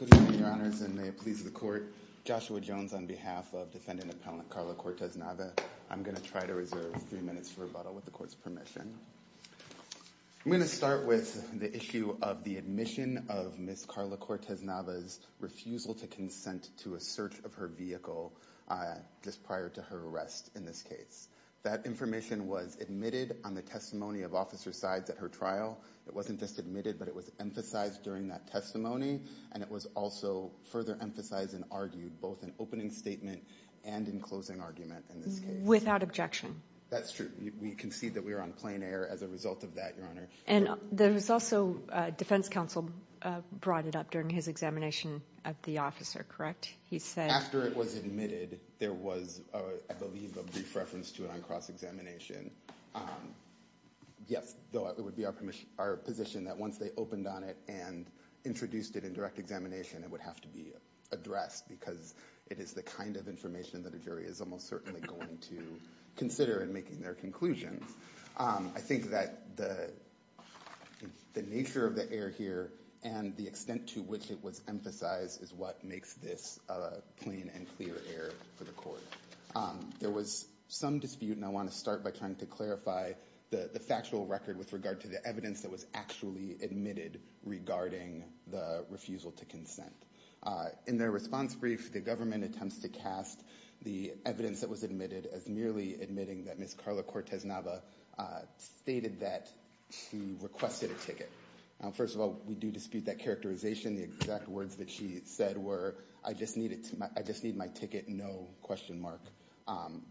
I'm going to start with the issue of the admission of Ms. Carla Cortes Nava's refusal to consent to a search of her vehicle just prior to her arrest in this case. That information was admitted on the testimony of officer sides at her trial, it wasn't just admitted but it was emphasized during that testimony, and it was also further emphasized and argued both in opening statement and in closing argument in this case. Without objection. That's true. We concede that we were on plain air as a result of that, Your Honor. And there was also, defense counsel brought it up during his examination of the officer, correct? He said After it was admitted, there was, I believe, a brief reference to it on cross examination. Yes, though it would be our position that once they opened on it and introduced it in direct examination, it would have to be addressed because it is the kind of information that a jury is almost certainly going to consider and making their conclusions. I think that the nature of the air here and the extent to which it was emphasized is what makes this plain and clear air for the court. There was some dispute and I want to start by trying to clarify the factual record with regard to the evidence that was actually admitted regarding the refusal to consent. In their response brief, the government attempts to cast the evidence that was admitted as merely admitting that Ms. Carla Cortez-Nava stated that she requested a ticket. First of all, we do dispute that characterization, the exact words that she said were, I just need my ticket, no question mark.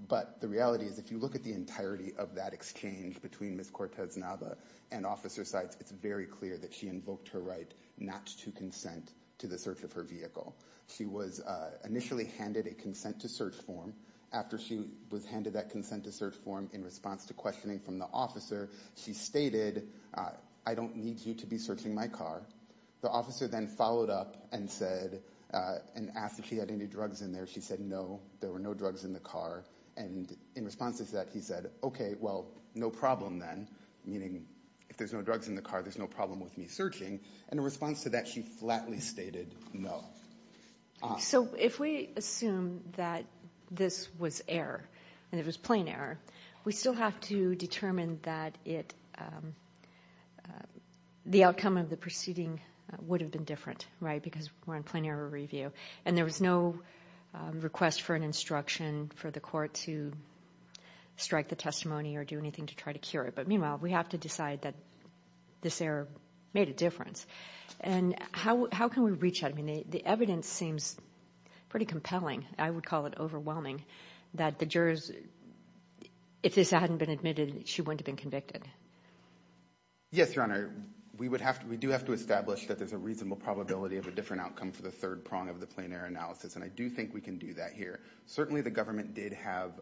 But the reality is if you look at the entirety of that exchange between Ms. Cortez-Nava and officer sites, it's very clear that she invoked her right not to consent to the search of her vehicle. She was initially handed a consent to search form. After she was handed that consent to search form in response to questioning from the officer, she stated, I don't need you to be searching my car. The officer then followed up and said, and asked if she had any drugs in there. She said, no, there were no drugs in the car. And in response to that, he said, okay, well, no problem then. Meaning if there's no drugs in the car, there's no problem with me searching. And in response to that, she flatly stated, no. So if we assume that this was error and it was plain error, we still have to determine that the outcome of the proceeding would have been different, right? Because we're in plain error review. And there was no request for an instruction for the court to strike the testimony or do anything to try to cure it. But meanwhile, we have to decide that this error made a difference. And how can we reach that? I mean, the evidence seems pretty compelling. I would call it overwhelming that the jurors, if this hadn't been admitted, she wouldn't have been convicted. Yes, Your Honor. We do have to establish that there's a reasonable probability of a different outcome for the third prong of the plain error analysis. And I do think we can do that here. Certainly, the government did have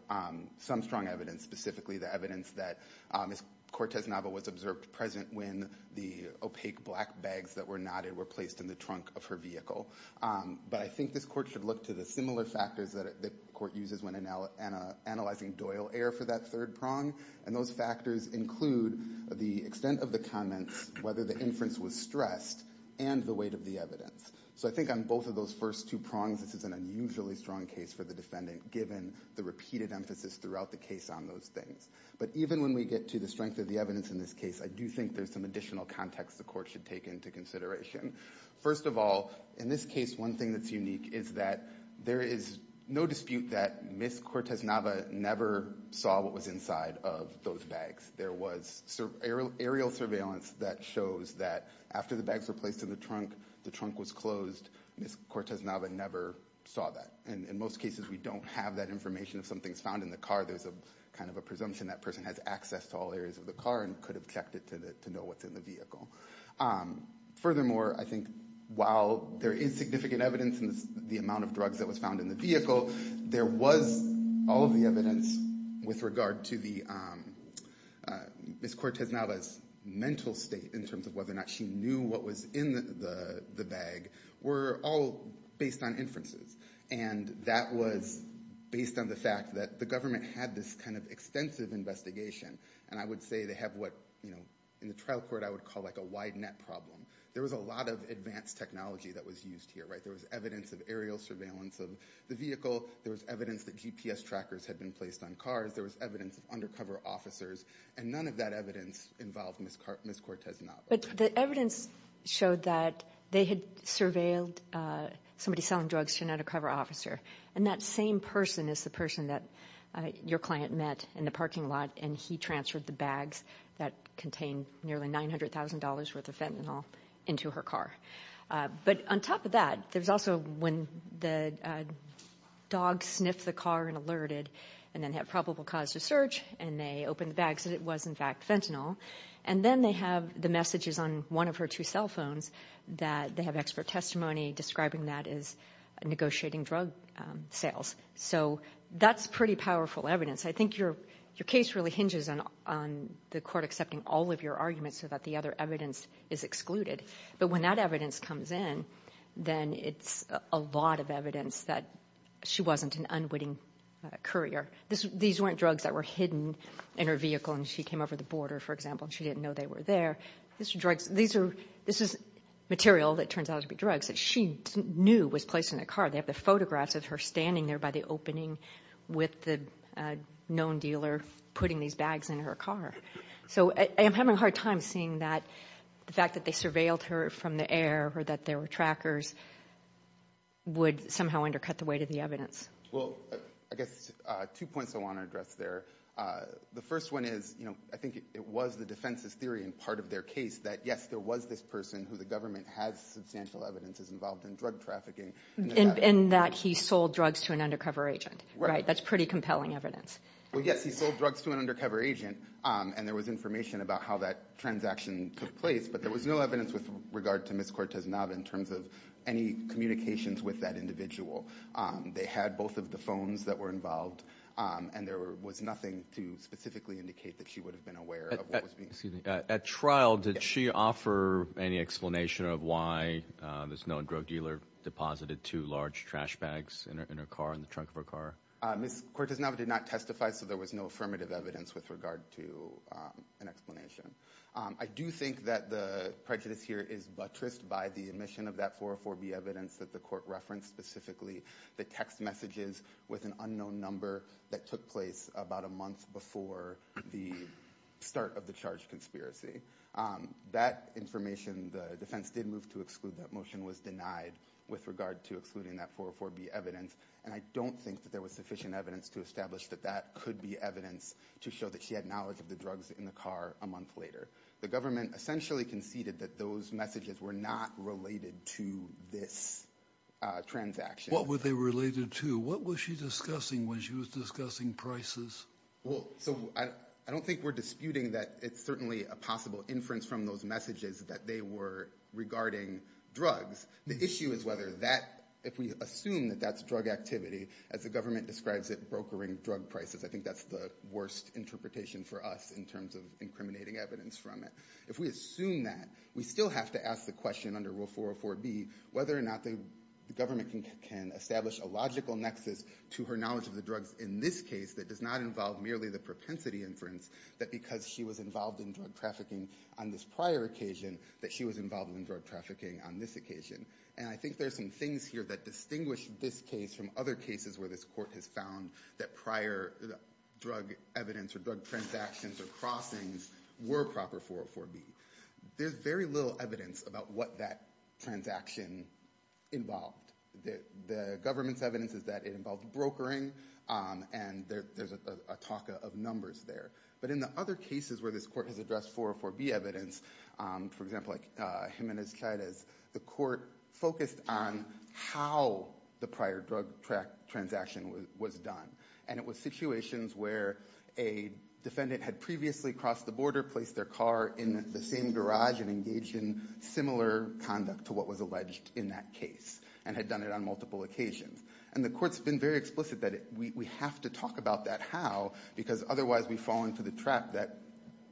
some strong evidence, specifically the evidence that Ms. Cortez-Nava was observed present when the opaque black bags that were knotted were placed in the trunk of her vehicle. But I think this court should look to the similar factors that the court uses when analyzing Doyle error for that third prong. And those factors include the extent of the comments, whether the inference was stressed, and the weight of the evidence. So I think on both of those first two prongs, this is an unusually strong case for the defendant, given the repeated emphasis throughout the case on those things. But even when we get to the strength of the evidence in this case, I do think there's some additional context the court should take into consideration. First of all, in this case, one thing that's unique is that there is no dispute that Ms. Cortez-Nava never saw what was inside of those bags. There was aerial surveillance that shows that after the bags were placed in the trunk, the trunk was closed. Ms. Cortez-Nava never saw that. And in most cases, we don't have that information. If something's found in the car, there's kind of a presumption that person has access to all areas of the car and could have checked it to know what's in the vehicle. Furthermore, I think while there is significant evidence in the amount of drugs that was found in the vehicle, there was all of the evidence with regard to Ms. Cortez-Nava's mental state in terms of whether or not she knew what was in the bag were all based on inferences. And that was based on the fact that the government had this kind of extensive investigation. And I would say they have what in the trial court I would call a wide net problem. There was a lot of advanced technology that was used here. There was evidence of aerial surveillance of the vehicle. There was evidence that GPS trackers had been placed on cars. There was evidence of undercover officers. And none of that evidence involved Ms. Cortez-Nava. But the evidence showed that they had surveilled somebody selling drugs to an undercover officer. And that same person is the person that your client met in the parking lot, and he transferred the bags that contained nearly $900,000 worth of fentanyl into her car. But on top of that, there's also when the dog sniffed the car and alerted and then had probable cause to search, and they opened the bags and it was, in fact, fentanyl. And then they have the messages on one of her two cell phones that they have expert testimony describing that as negotiating drug sales. So that's pretty powerful evidence. I think your case really hinges on the court accepting all of your arguments so that the other evidence is excluded. But when that evidence comes in, then it's a lot of evidence that she wasn't an unwitting courier. These weren't drugs that were hidden in her vehicle and she came over the border, for example, and she didn't know they were there. These are drugs. This is material that turns out to be drugs that she knew was placed in the car. They have the photographs of her standing there by the opening with the known dealer putting these bags in her car. So I am having a hard time seeing that the fact that they surveilled her from the air or that there were trackers would somehow undercut the weight of the evidence. Well, I guess two points I want to address there. The first one is I think it was the defense's theory in part of their case that, yes, there was this person who the government has substantial evidence is involved in drug trafficking. In that he sold drugs to an undercover agent, right? That's pretty compelling evidence. Well, yes, he sold drugs to an undercover agent, and there was information about how that transaction took place, but there was no evidence with regard to Ms. Cortez-Nava in terms of any communications with that individual. They had both of the phones that were involved, and there was nothing to specifically indicate that she would have been aware of what was being sold. At trial, did she offer any explanation of why this known drug dealer deposited two large trash bags in her car, in the trunk of her car? Ms. Cortez-Nava did not testify, so there was no affirmative evidence with regard to an explanation. I do think that the prejudice here is buttressed by the admission of that 404B evidence that the court referenced specifically, the text messages, with an unknown number that took place about a month before the start of the charge conspiracy. That information, the defense did move to exclude that motion, was denied with regard to excluding that 404B evidence, and I don't think that there was sufficient evidence to establish that that could be evidence to show that she had knowledge of the drugs in the car a month later. The government essentially conceded that those messages were not related to this transaction. What were they related to? What was she discussing when she was discussing prices? Well, so I don't think we're disputing that it's certainly a possible inference from those messages that they were regarding drugs. The issue is whether that, if we assume that that's drug activity, as the government describes it, brokering drug prices. I think that's the worst interpretation for us in terms of incriminating evidence from it. If we assume that, we still have to ask the question under Rule 404B whether or not the government can establish a logical nexus to her knowledge of the drugs in this case that does not involve merely the propensity inference, that because she was involved in drug trafficking on this prior occasion, that she was involved in drug trafficking on this occasion. And I think there's some things here that distinguish this case from other cases where this court has found that prior drug evidence or drug transactions or crossings were proper 404B. There's very little evidence about what that transaction involved. The government's evidence is that it involved brokering, and there's a talk of numbers there. But in the other cases where this court has addressed 404B evidence, for example, like Jimenez-Chavez, the court focused on how the prior drug transaction was done. And it was situations where a defendant had previously crossed the border, placed their car in the same garage, and engaged in similar conduct to what was alleged in that case and had done it on multiple occasions. And the court's been very explicit that we have to talk about that how because otherwise we fall into the trap that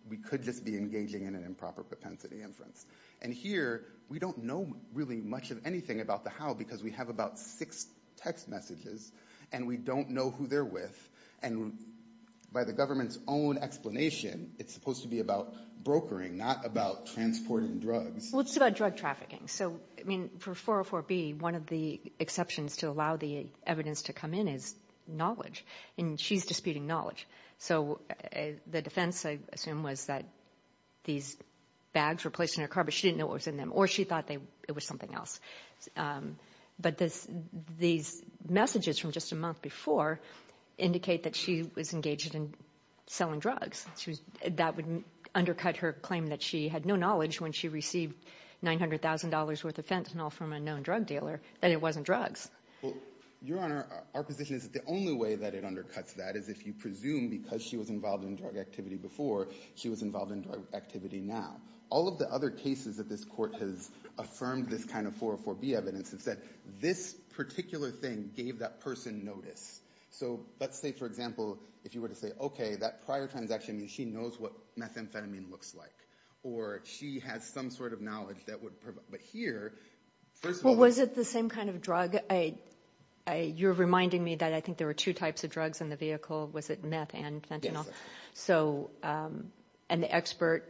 we could just be engaging in an improper propensity inference. And here we don't know really much of anything about the how because we have about six text messages, and we don't know who they're with. And by the government's own explanation, it's supposed to be about brokering, not about transporting drugs. Well, it's about drug trafficking. So, I mean, for 404B, one of the exceptions to allow the evidence to come in is knowledge. And she's disputing knowledge. So the defense, I assume, was that these bags were placed in her car, but she didn't know what was in them, or she thought it was something else. But these messages from just a month before indicate that she was engaged in selling drugs. That would undercut her claim that she had no knowledge when she received $900,000 worth of fentanyl from a known drug dealer that it wasn't drugs. Well, Your Honor, our position is that the only way that it undercuts that is if you presume because she was involved in drug activity before, she was involved in drug activity now. All of the other cases that this court has affirmed this kind of 404B evidence is that this particular thing gave that person notice. So let's say, for example, if you were to say, okay, that prior transaction means she knows what methamphetamine looks like, or she has some sort of knowledge that would provide. Well, was it the same kind of drug? You're reminding me that I think there were two types of drugs in the vehicle. Was it meth and fentanyl? Yes. And the expert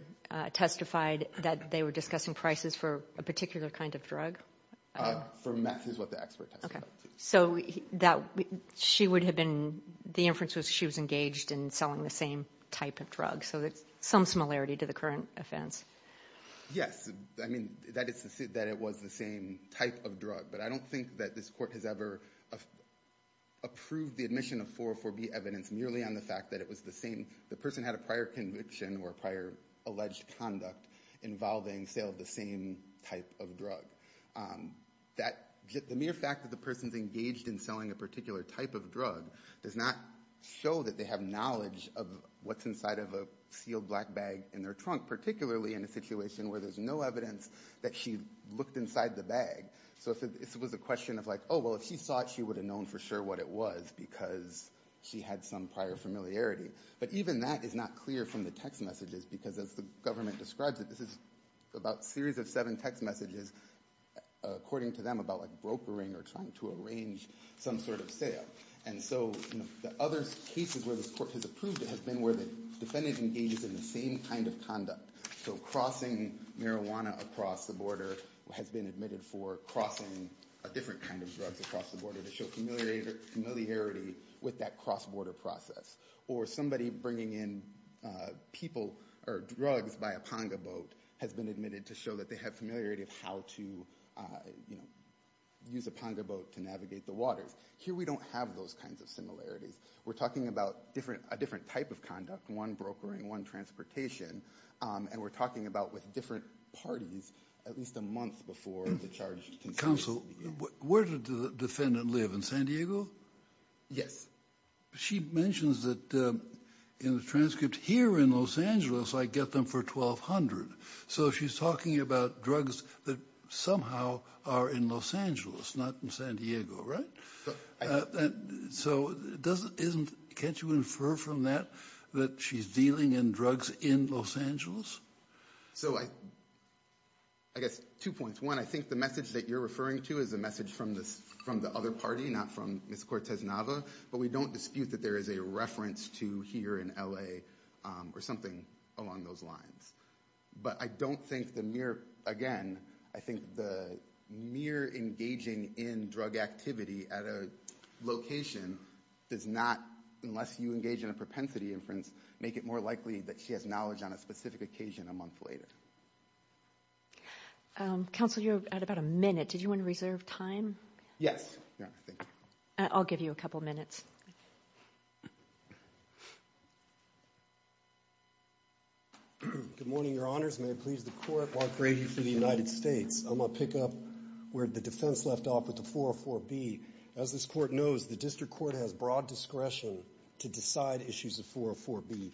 testified that they were discussing prices for a particular kind of drug? For meth is what the expert testified. So the inference was she was engaged in selling the same type of drug, so there's some similarity to the current offense. Yes. I mean, that is to say that it was the same type of drug, but I don't think that this court has ever approved the admission of 404B evidence merely on the fact that the person had a prior conviction or prior alleged conduct involving sale of the same type of drug. The mere fact that the person is engaged in selling a particular type of drug does not show that they have knowledge of what's inside of a sealed black bag in their trunk, particularly in a situation where there's no evidence that she looked inside the bag. So this was a question of like, oh, well, if she saw it, she would have known for sure what it was because she had some prior familiarity. But even that is not clear from the text messages because as the government describes it, this is about a series of seven text messages, according to them, about like brokering or trying to arrange some sort of sale. And so the other cases where this court has approved it has been where the defendant engages in the same kind of conduct. So crossing marijuana across the border has been admitted for crossing a different kind of drugs across the border to show familiarity with that cross-border process. Or somebody bringing in people or drugs by a panga boat has been admitted to show that they have familiarity of how to use a panga boat to navigate the waters. Here we don't have those kinds of similarities. We're talking about a different type of conduct, one brokering, one transportation, and we're talking about with different parties at least a month before the charge is conceded. Counsel, where did the defendant live, in San Diego? Yes. She mentions that in the transcript, here in Los Angeles, I get them for $1,200. So she's talking about drugs that somehow are in Los Angeles, not in San Diego, right? So can't you infer from that that she's dealing in drugs in Los Angeles? So I guess two points. One, I think the message that you're referring to is a message from the other party, not from Ms. Cortes-Nava, but we don't dispute that there is a reference to here in L.A. or something along those lines. But I don't think the mere, again, I think the mere engaging in drug activity at a location does not, unless you engage in a propensity inference, make it more likely that she has knowledge on a specific occasion a month later. Counsel, you're at about a minute. Did you want to reserve time? Yes. I'll give you a couple minutes. Good morning, Your Honors. May it please the Court, Mark Brady for the United States. I'm going to pick up where the defense left off with the 404B. As this Court knows, the district court has broad discretion to decide issues of 404B.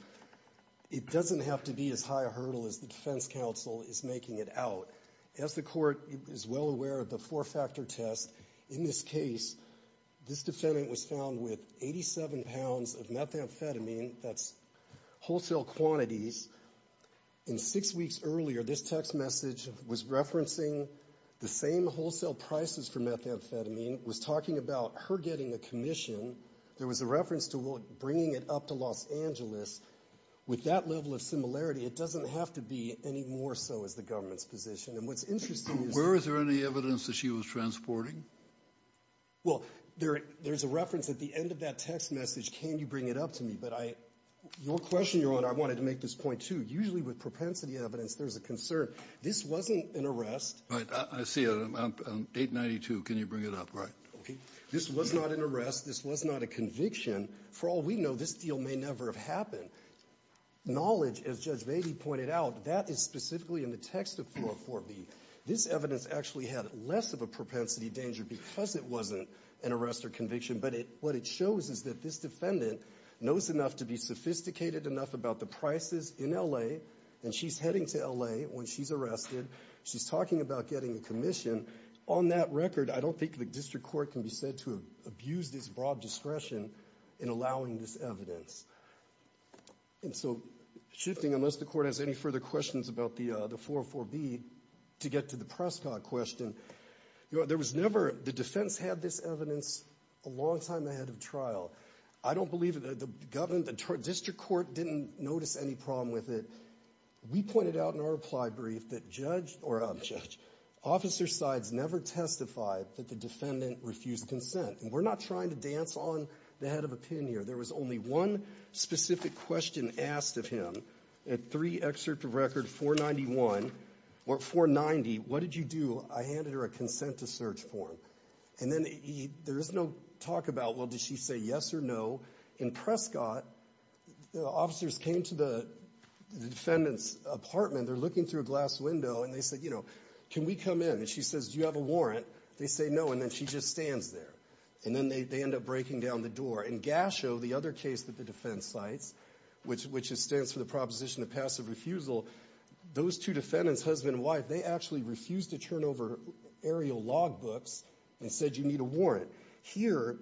It doesn't have to be as high a hurdle as the defense counsel is making it out. As the Court is well aware of the four-factor test, in this case, this defendant was found with 87 pounds of methamphetamine, that's wholesale quantities. And six weeks earlier, this text message was referencing the same wholesale prices for methamphetamine, was talking about her getting a commission. There was a reference to bringing it up to Los Angeles. With that level of similarity, it doesn't have to be any more so as the government's position. And what's interesting is that – Were there any evidence that she was transporting? Well, there's a reference at the end of that text message, can you bring it up to me. But your question, Your Honor, I wanted to make this point too. Usually with propensity evidence, there's a concern. This wasn't an arrest. All right, I see it. Date 92, can you bring it up? All right. This was not an arrest. This was not a conviction. For all we know, this deal may never have happened. Knowledge, as Judge Beatty pointed out, that is specifically in the text of 404B. This evidence actually had less of a propensity danger because it wasn't an arrest or conviction. But what it shows is that this defendant knows enough to be sophisticated enough about the prices in L.A., and she's heading to L.A. when she's arrested. She's talking about getting a commission. On that record, I don't think the district court can be said to have abused its broad discretion in allowing this evidence. And so shifting, unless the court has any further questions about the 404B, to get to the Prescott question. There was never, the defense had this evidence a long time ahead of trial. I don't believe the district court didn't notice any problem with it. We pointed out in our reply brief that judge, or I'm a judge, officer sides never testify that the defendant refused consent. And we're not trying to dance on the head of a pin here. There was only one specific question asked of him. In three excerpts of record 491, or 490, what did you do? I handed her a consent-to-search form. And then there is no talk about, well, did she say yes or no? In Prescott, the officers came to the defendant's apartment. They're looking through a glass window, and they said, you know, can we come in? And she says, do you have a warrant? They say no, and then she just stands there. And then they end up breaking down the door. In Gasho, the other case that the defense cites, which stands for the proposition of passive refusal, those two defendants, husband and wife, they actually refused to turn over aerial log books and said, you need a warrant. Here,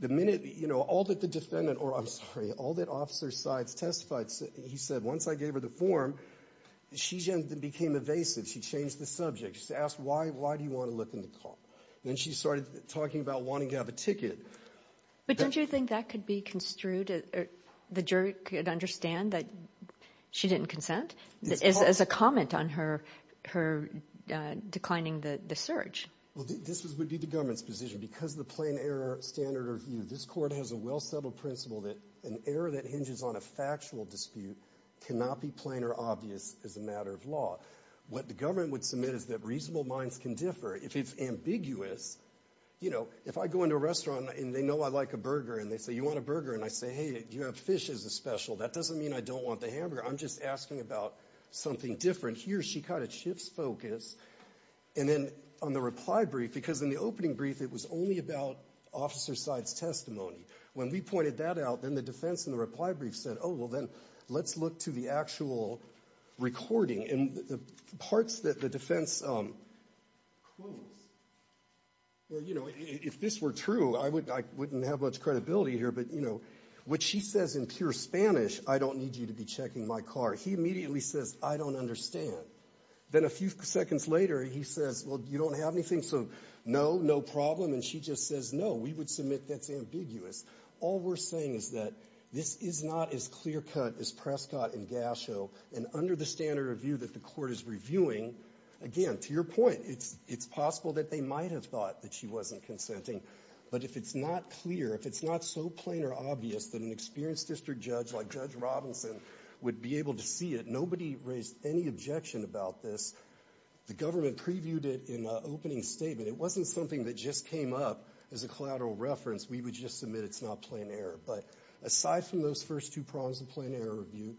the minute, you know, all that the defendant, or I'm sorry, all that officer sides testified, he said, once I gave her the form, she became evasive. She changed the subject. She asked, why do you want to look in the car? And then she started talking about wanting to have a ticket. But don't you think that could be construed, the jury could understand that she didn't consent as a comment on her declining the search? Well, this would be the government's position. Because of the plain error standard of view, this court has a well-settled principle that an error that hinges on a factual dispute cannot be plain or obvious as a matter of law. What the government would submit is that reasonable minds can differ. If it's ambiguous, you know, if I go into a restaurant and they know I like a burger and they say, you want a burger? And I say, hey, do you have fish as a special? That doesn't mean I don't want the hamburger. I'm just asking about something different. Here, she kind of shifts focus. And then on the reply brief, because in the opening brief, it was only about officer sides' testimony. When we pointed that out, then the defense in the reply brief said, oh, well, then let's look to the actual recording. And the parts that the defense quotes, well, you know, if this were true, I wouldn't have much credibility here. But, you know, what she says in pure Spanish, I don't need you to be checking my car, he immediately says, I don't understand. Then a few seconds later, he says, well, you don't have anything? So, no, no problem. And she just says, no, we would submit that's ambiguous. All we're saying is that this is not as clear-cut as Prescott and Gasho. And under the standard of view that the court is reviewing, again, to your point, it's possible that they might have thought that she wasn't consenting. But if it's not clear, if it's not so plain or obvious that an experienced district judge like Judge Robinson would be able to see it, nobody raised any objection about this. The government previewed it in an opening statement. It wasn't something that just came up as a collateral reference. We would just submit it's not plain error. But aside from those first two prongs of plain error review,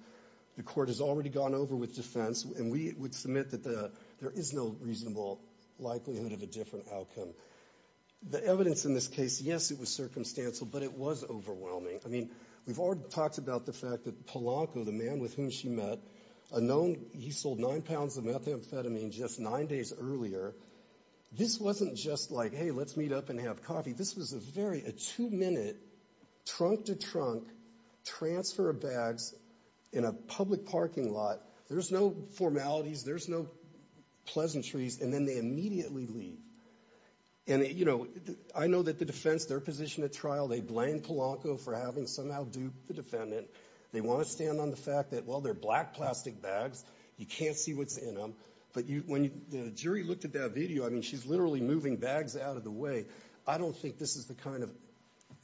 the court has already gone over with defense. And we would submit that there is no reasonable likelihood of a different outcome. The evidence in this case, yes, it was circumstantial, but it was overwhelming. I mean, we've already talked about the fact that Polanco, the man with whom she met, unknown, he sold nine pounds of methamphetamine just nine days earlier. This wasn't just like, hey, let's meet up and have coffee. This was a two-minute trunk-to-trunk transfer of bags in a public parking lot. There's no formalities. There's no pleasantries. And then they immediately leave. And I know that the defense, their position at trial, they blame Polanco for having somehow duped the defendant. They want to stand on the fact that, well, they're black plastic bags. You can't see what's in them. But when the jury looked at that video, I mean, she's literally moving bags out of the way. I don't think this is the kind of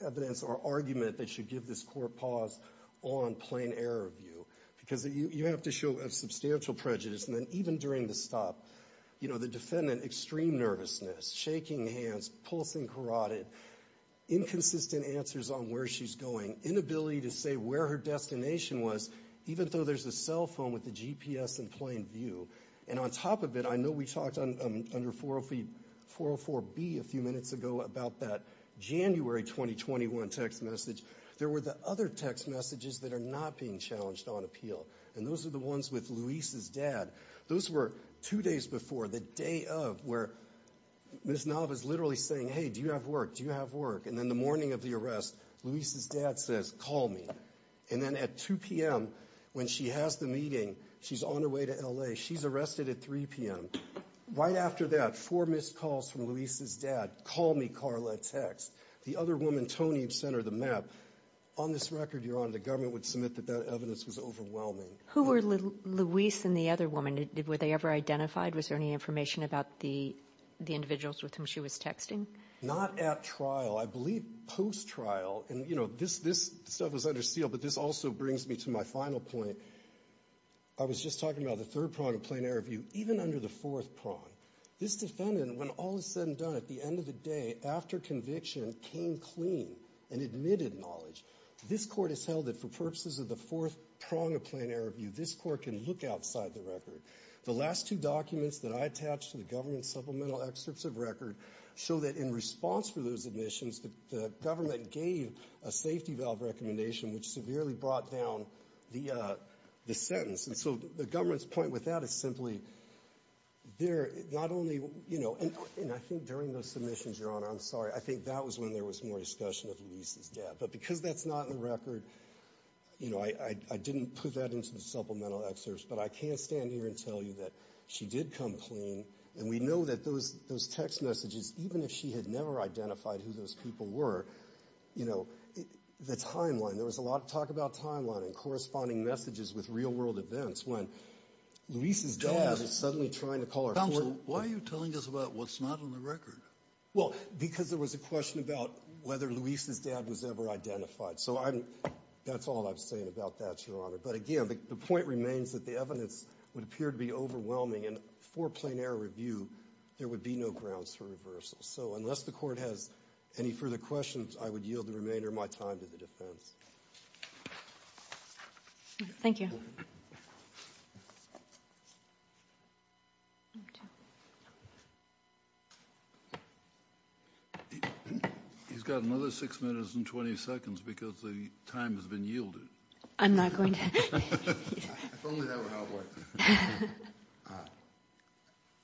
evidence or argument that should give this court pause on plain error review, because you have to show a substantial prejudice. And then even during the stop, you know, the defendant, extreme nervousness, shaking hands, pulsing carotid, inconsistent answers on where she's going, inability to say where her destination was, even though there's a cell phone with a GPS in plain view. And on top of it, I know we talked under 404B a few minutes ago about that January 2021 text message. There were the other text messages that are not being challenged on appeal, and those are the ones with Luis's dad. Those were two days before, the day of, where Ms. Nava is literally saying, hey, do you have work? Do you have work? And then the morning of the arrest, Luis's dad says, call me. And then at 2 p.m., when she has the meeting, she's on her way to L.A., she's arrested at 3 p.m. Right after that, four missed calls from Luis's dad, call me, Carla, text. The other woman, Tony, sent her the map. On this record, Your Honor, the government would submit that that evidence was overwhelming. Who were Luis and the other woman? Were they ever identified? Was there any information about the individuals with whom she was texting? Not at trial. I believe post-trial, and, you know, this stuff was under seal, but this also brings me to my final point. I was just talking about the third prong of plain error view, even under the fourth prong. This defendant, when all is said and done, at the end of the day, after conviction, came clean and admitted knowledge. This Court has held that for purposes of the fourth prong of plain error view, this Court can look outside the record. The last two documents that I attached to the government supplemental excerpts of record show that in response for those admissions, the government gave a safety valve recommendation, which severely brought down the sentence. And so the government's point with that is simply, they're not only, you know, and I think during those submissions, Your Honor, I'm sorry, I think that was when there was more discussion of Luis's dad. But because that's not in the record, you know, I didn't put that into the supplemental excerpts, but I can't stand here and tell you that she did come clean, and we know that those text messages, even if she had never identified who those people were, you know, the timeline, there was a lot of talk about timeline and corresponding messages with real world events, when Luis's dad was suddenly trying to call her. Counsel, why are you telling us about what's not on the record? Well, because there was a question about whether Luis's dad was ever identified. So that's all I'm saying about that, Your Honor. But again, the point remains that the evidence would appear to be overwhelming, and for plain error review, there would be no grounds for reversal. So unless the Court has any further questions, I would yield the remainder of my time to the defense. Thank you. Thank you. He's got another six minutes and 20 seconds because the time has been yielded. I'm not going to. If only that were how it works.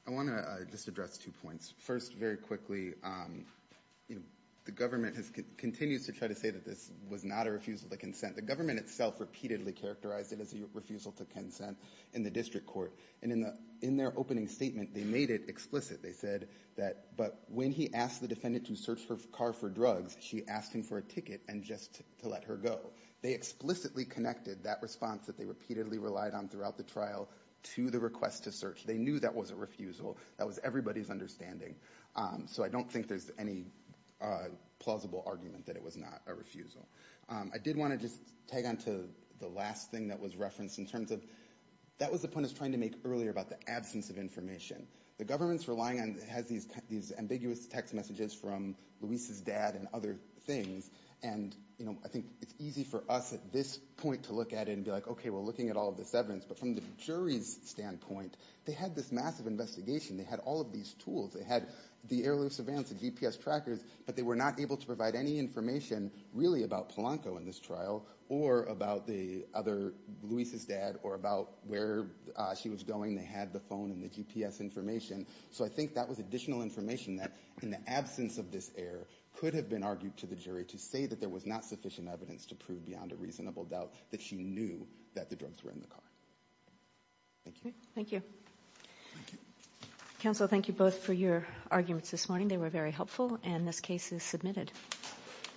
I want to just address two points. First, very quickly, the government continues to try to say that this was not a refusal to consent. The government itself repeatedly characterized it as a refusal to consent in the district court. And in their opening statement, they made it explicit. They said that when he asked the defendant to search her car for drugs, she asked him for a ticket and just to let her go. They explicitly connected that response that they repeatedly relied on throughout the trial to the request to search. They knew that was a refusal. That was everybody's understanding. So I don't think there's any plausible argument that it was not a refusal. I did want to just tag on to the last thing that was referenced in terms of that was the point I was trying to make earlier about the absence of information. The government's relying on these ambiguous text messages from Luis's dad and other things. And I think it's easy for us at this point to look at it and be like, okay, we're looking at all of this evidence. But from the jury's standpoint, they had this massive investigation. They had all of these tools. They had the air loose events and GPS trackers, but they were not able to provide any information really about Polanco in this trial or about the other Luis's dad or about where she was going. They had the phone and the GPS information. So I think that was additional information that in the absence of this error could have been argued to the jury to say that there was not sufficient evidence to prove beyond a reasonable doubt that she knew that the drugs were in the car. Thank you. Thank you. Thank you. Counsel, thank you both for your arguments this morning. They were very helpful, and this case is submitted.